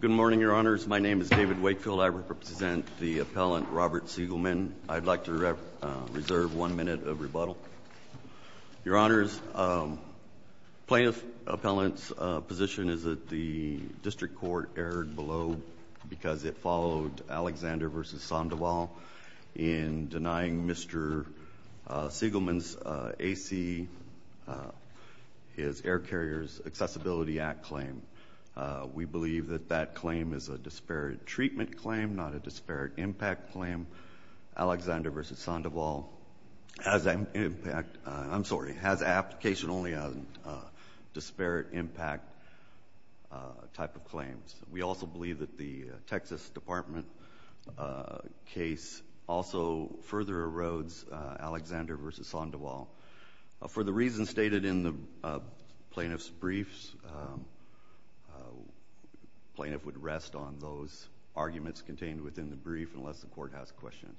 Good morning, Your Honors. My name is David Wakefield. I represent the appellant Robert Segalman. I'd like to reserve one minute of rebuttal. Your Honors, plaintiff appellant's position is that the district court erred below because it followed Alexander v. Sandoval in denying Mr. Segalman's AC, his Air Carriers Accessibility Act claim. We believe that that claim is a disparate treatment claim, not a disparate impact claim. Alexander v. Sandoval has an impact. I'm sorry, has application only on disparate impact type of claims. We also believe that the Texas Department case also further erodes Alexander v. Sandoval. For the reasons stated in the plaintiff's briefs, plaintiff would rest on those arguments contained within the brief unless the court has questions.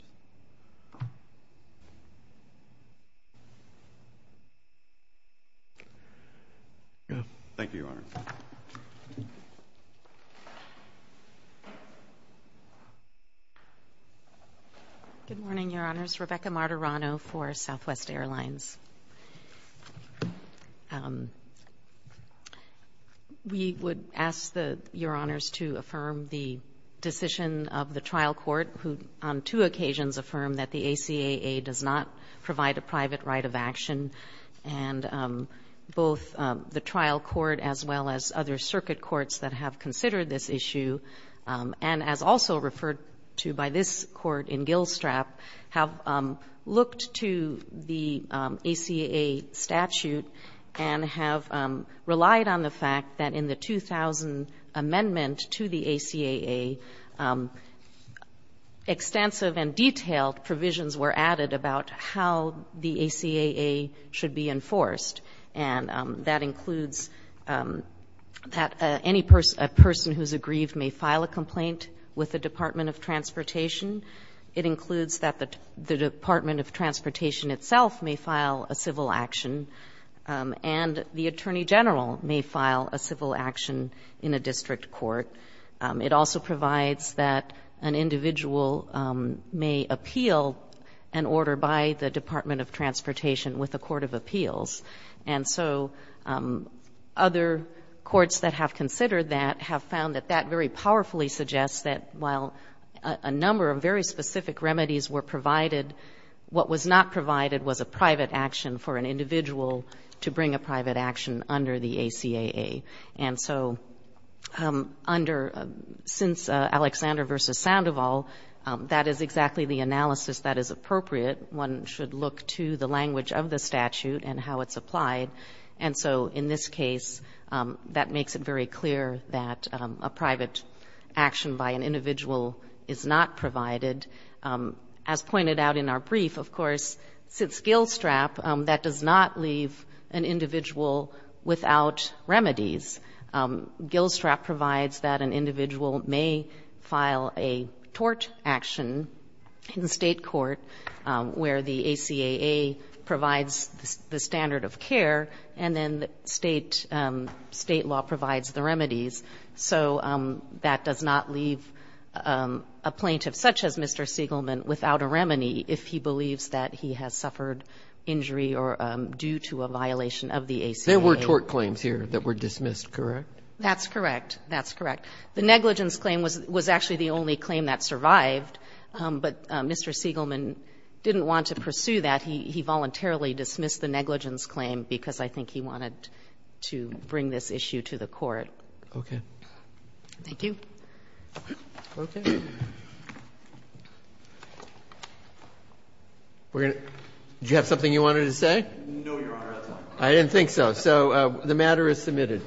Thank you, Your Honors. Good morning, Your Honors. My name is Rebecca Martirano for Southwest Airlines. We would ask Your Honors to affirm the decision of the trial court, who on two occasions affirmed that the ACAA does not provide a private right of action, and both the trial court as well as other circuit courts that have considered this issue and as also referred to by this Court in Gilstrap have looked to the ACAA statute and have relied on the fact that in the 2000 amendment to the ACAA, extensive and detailed provisions were added about how the ACAA should be enforced. That includes that any person who is aggrieved may file a complaint with the Department of Transportation. It includes that the Department of Transportation itself may file a civil action and the Attorney General may file a civil action in a district court. It also provides that an individual may appeal an order by the Department of Transportation with a court of appeals. And so other courts that have considered that have found that that very powerfully suggests that while a number of very specific remedies were provided, what was not provided was a private action for an individual to bring a private action under the ACAA. And so under, since Alexander v. Sandoval, that is exactly the analysis that is appropriate. One should look to the language of the statute and how it's applied. And so in this case, that makes it very clear that a private action by an individual is not provided. As pointed out in our brief, of course, since Gilstrap, that does not leave an individual without remedies. Gilstrap provides that an individual may file a tort action in state court where the ACAA provides the standard of care and then state law provides the remedies. So that does not leave a plaintiff such as Mr. Siegelman without a remedy if he believes that he has suffered injury or due to a violation of the ACAA. There were tort claims here that were dismissed, correct? That's correct. That's correct. The negligence claim was actually the only claim that survived, but Mr. Siegelman didn't want to pursue that. He voluntarily dismissed the negligence claim because I think he wanted to bring this issue to the court. Okay. Thank you. Okay. Did you have something you wanted to say? No, Your Honor. I didn't think so. So the matter is submitted.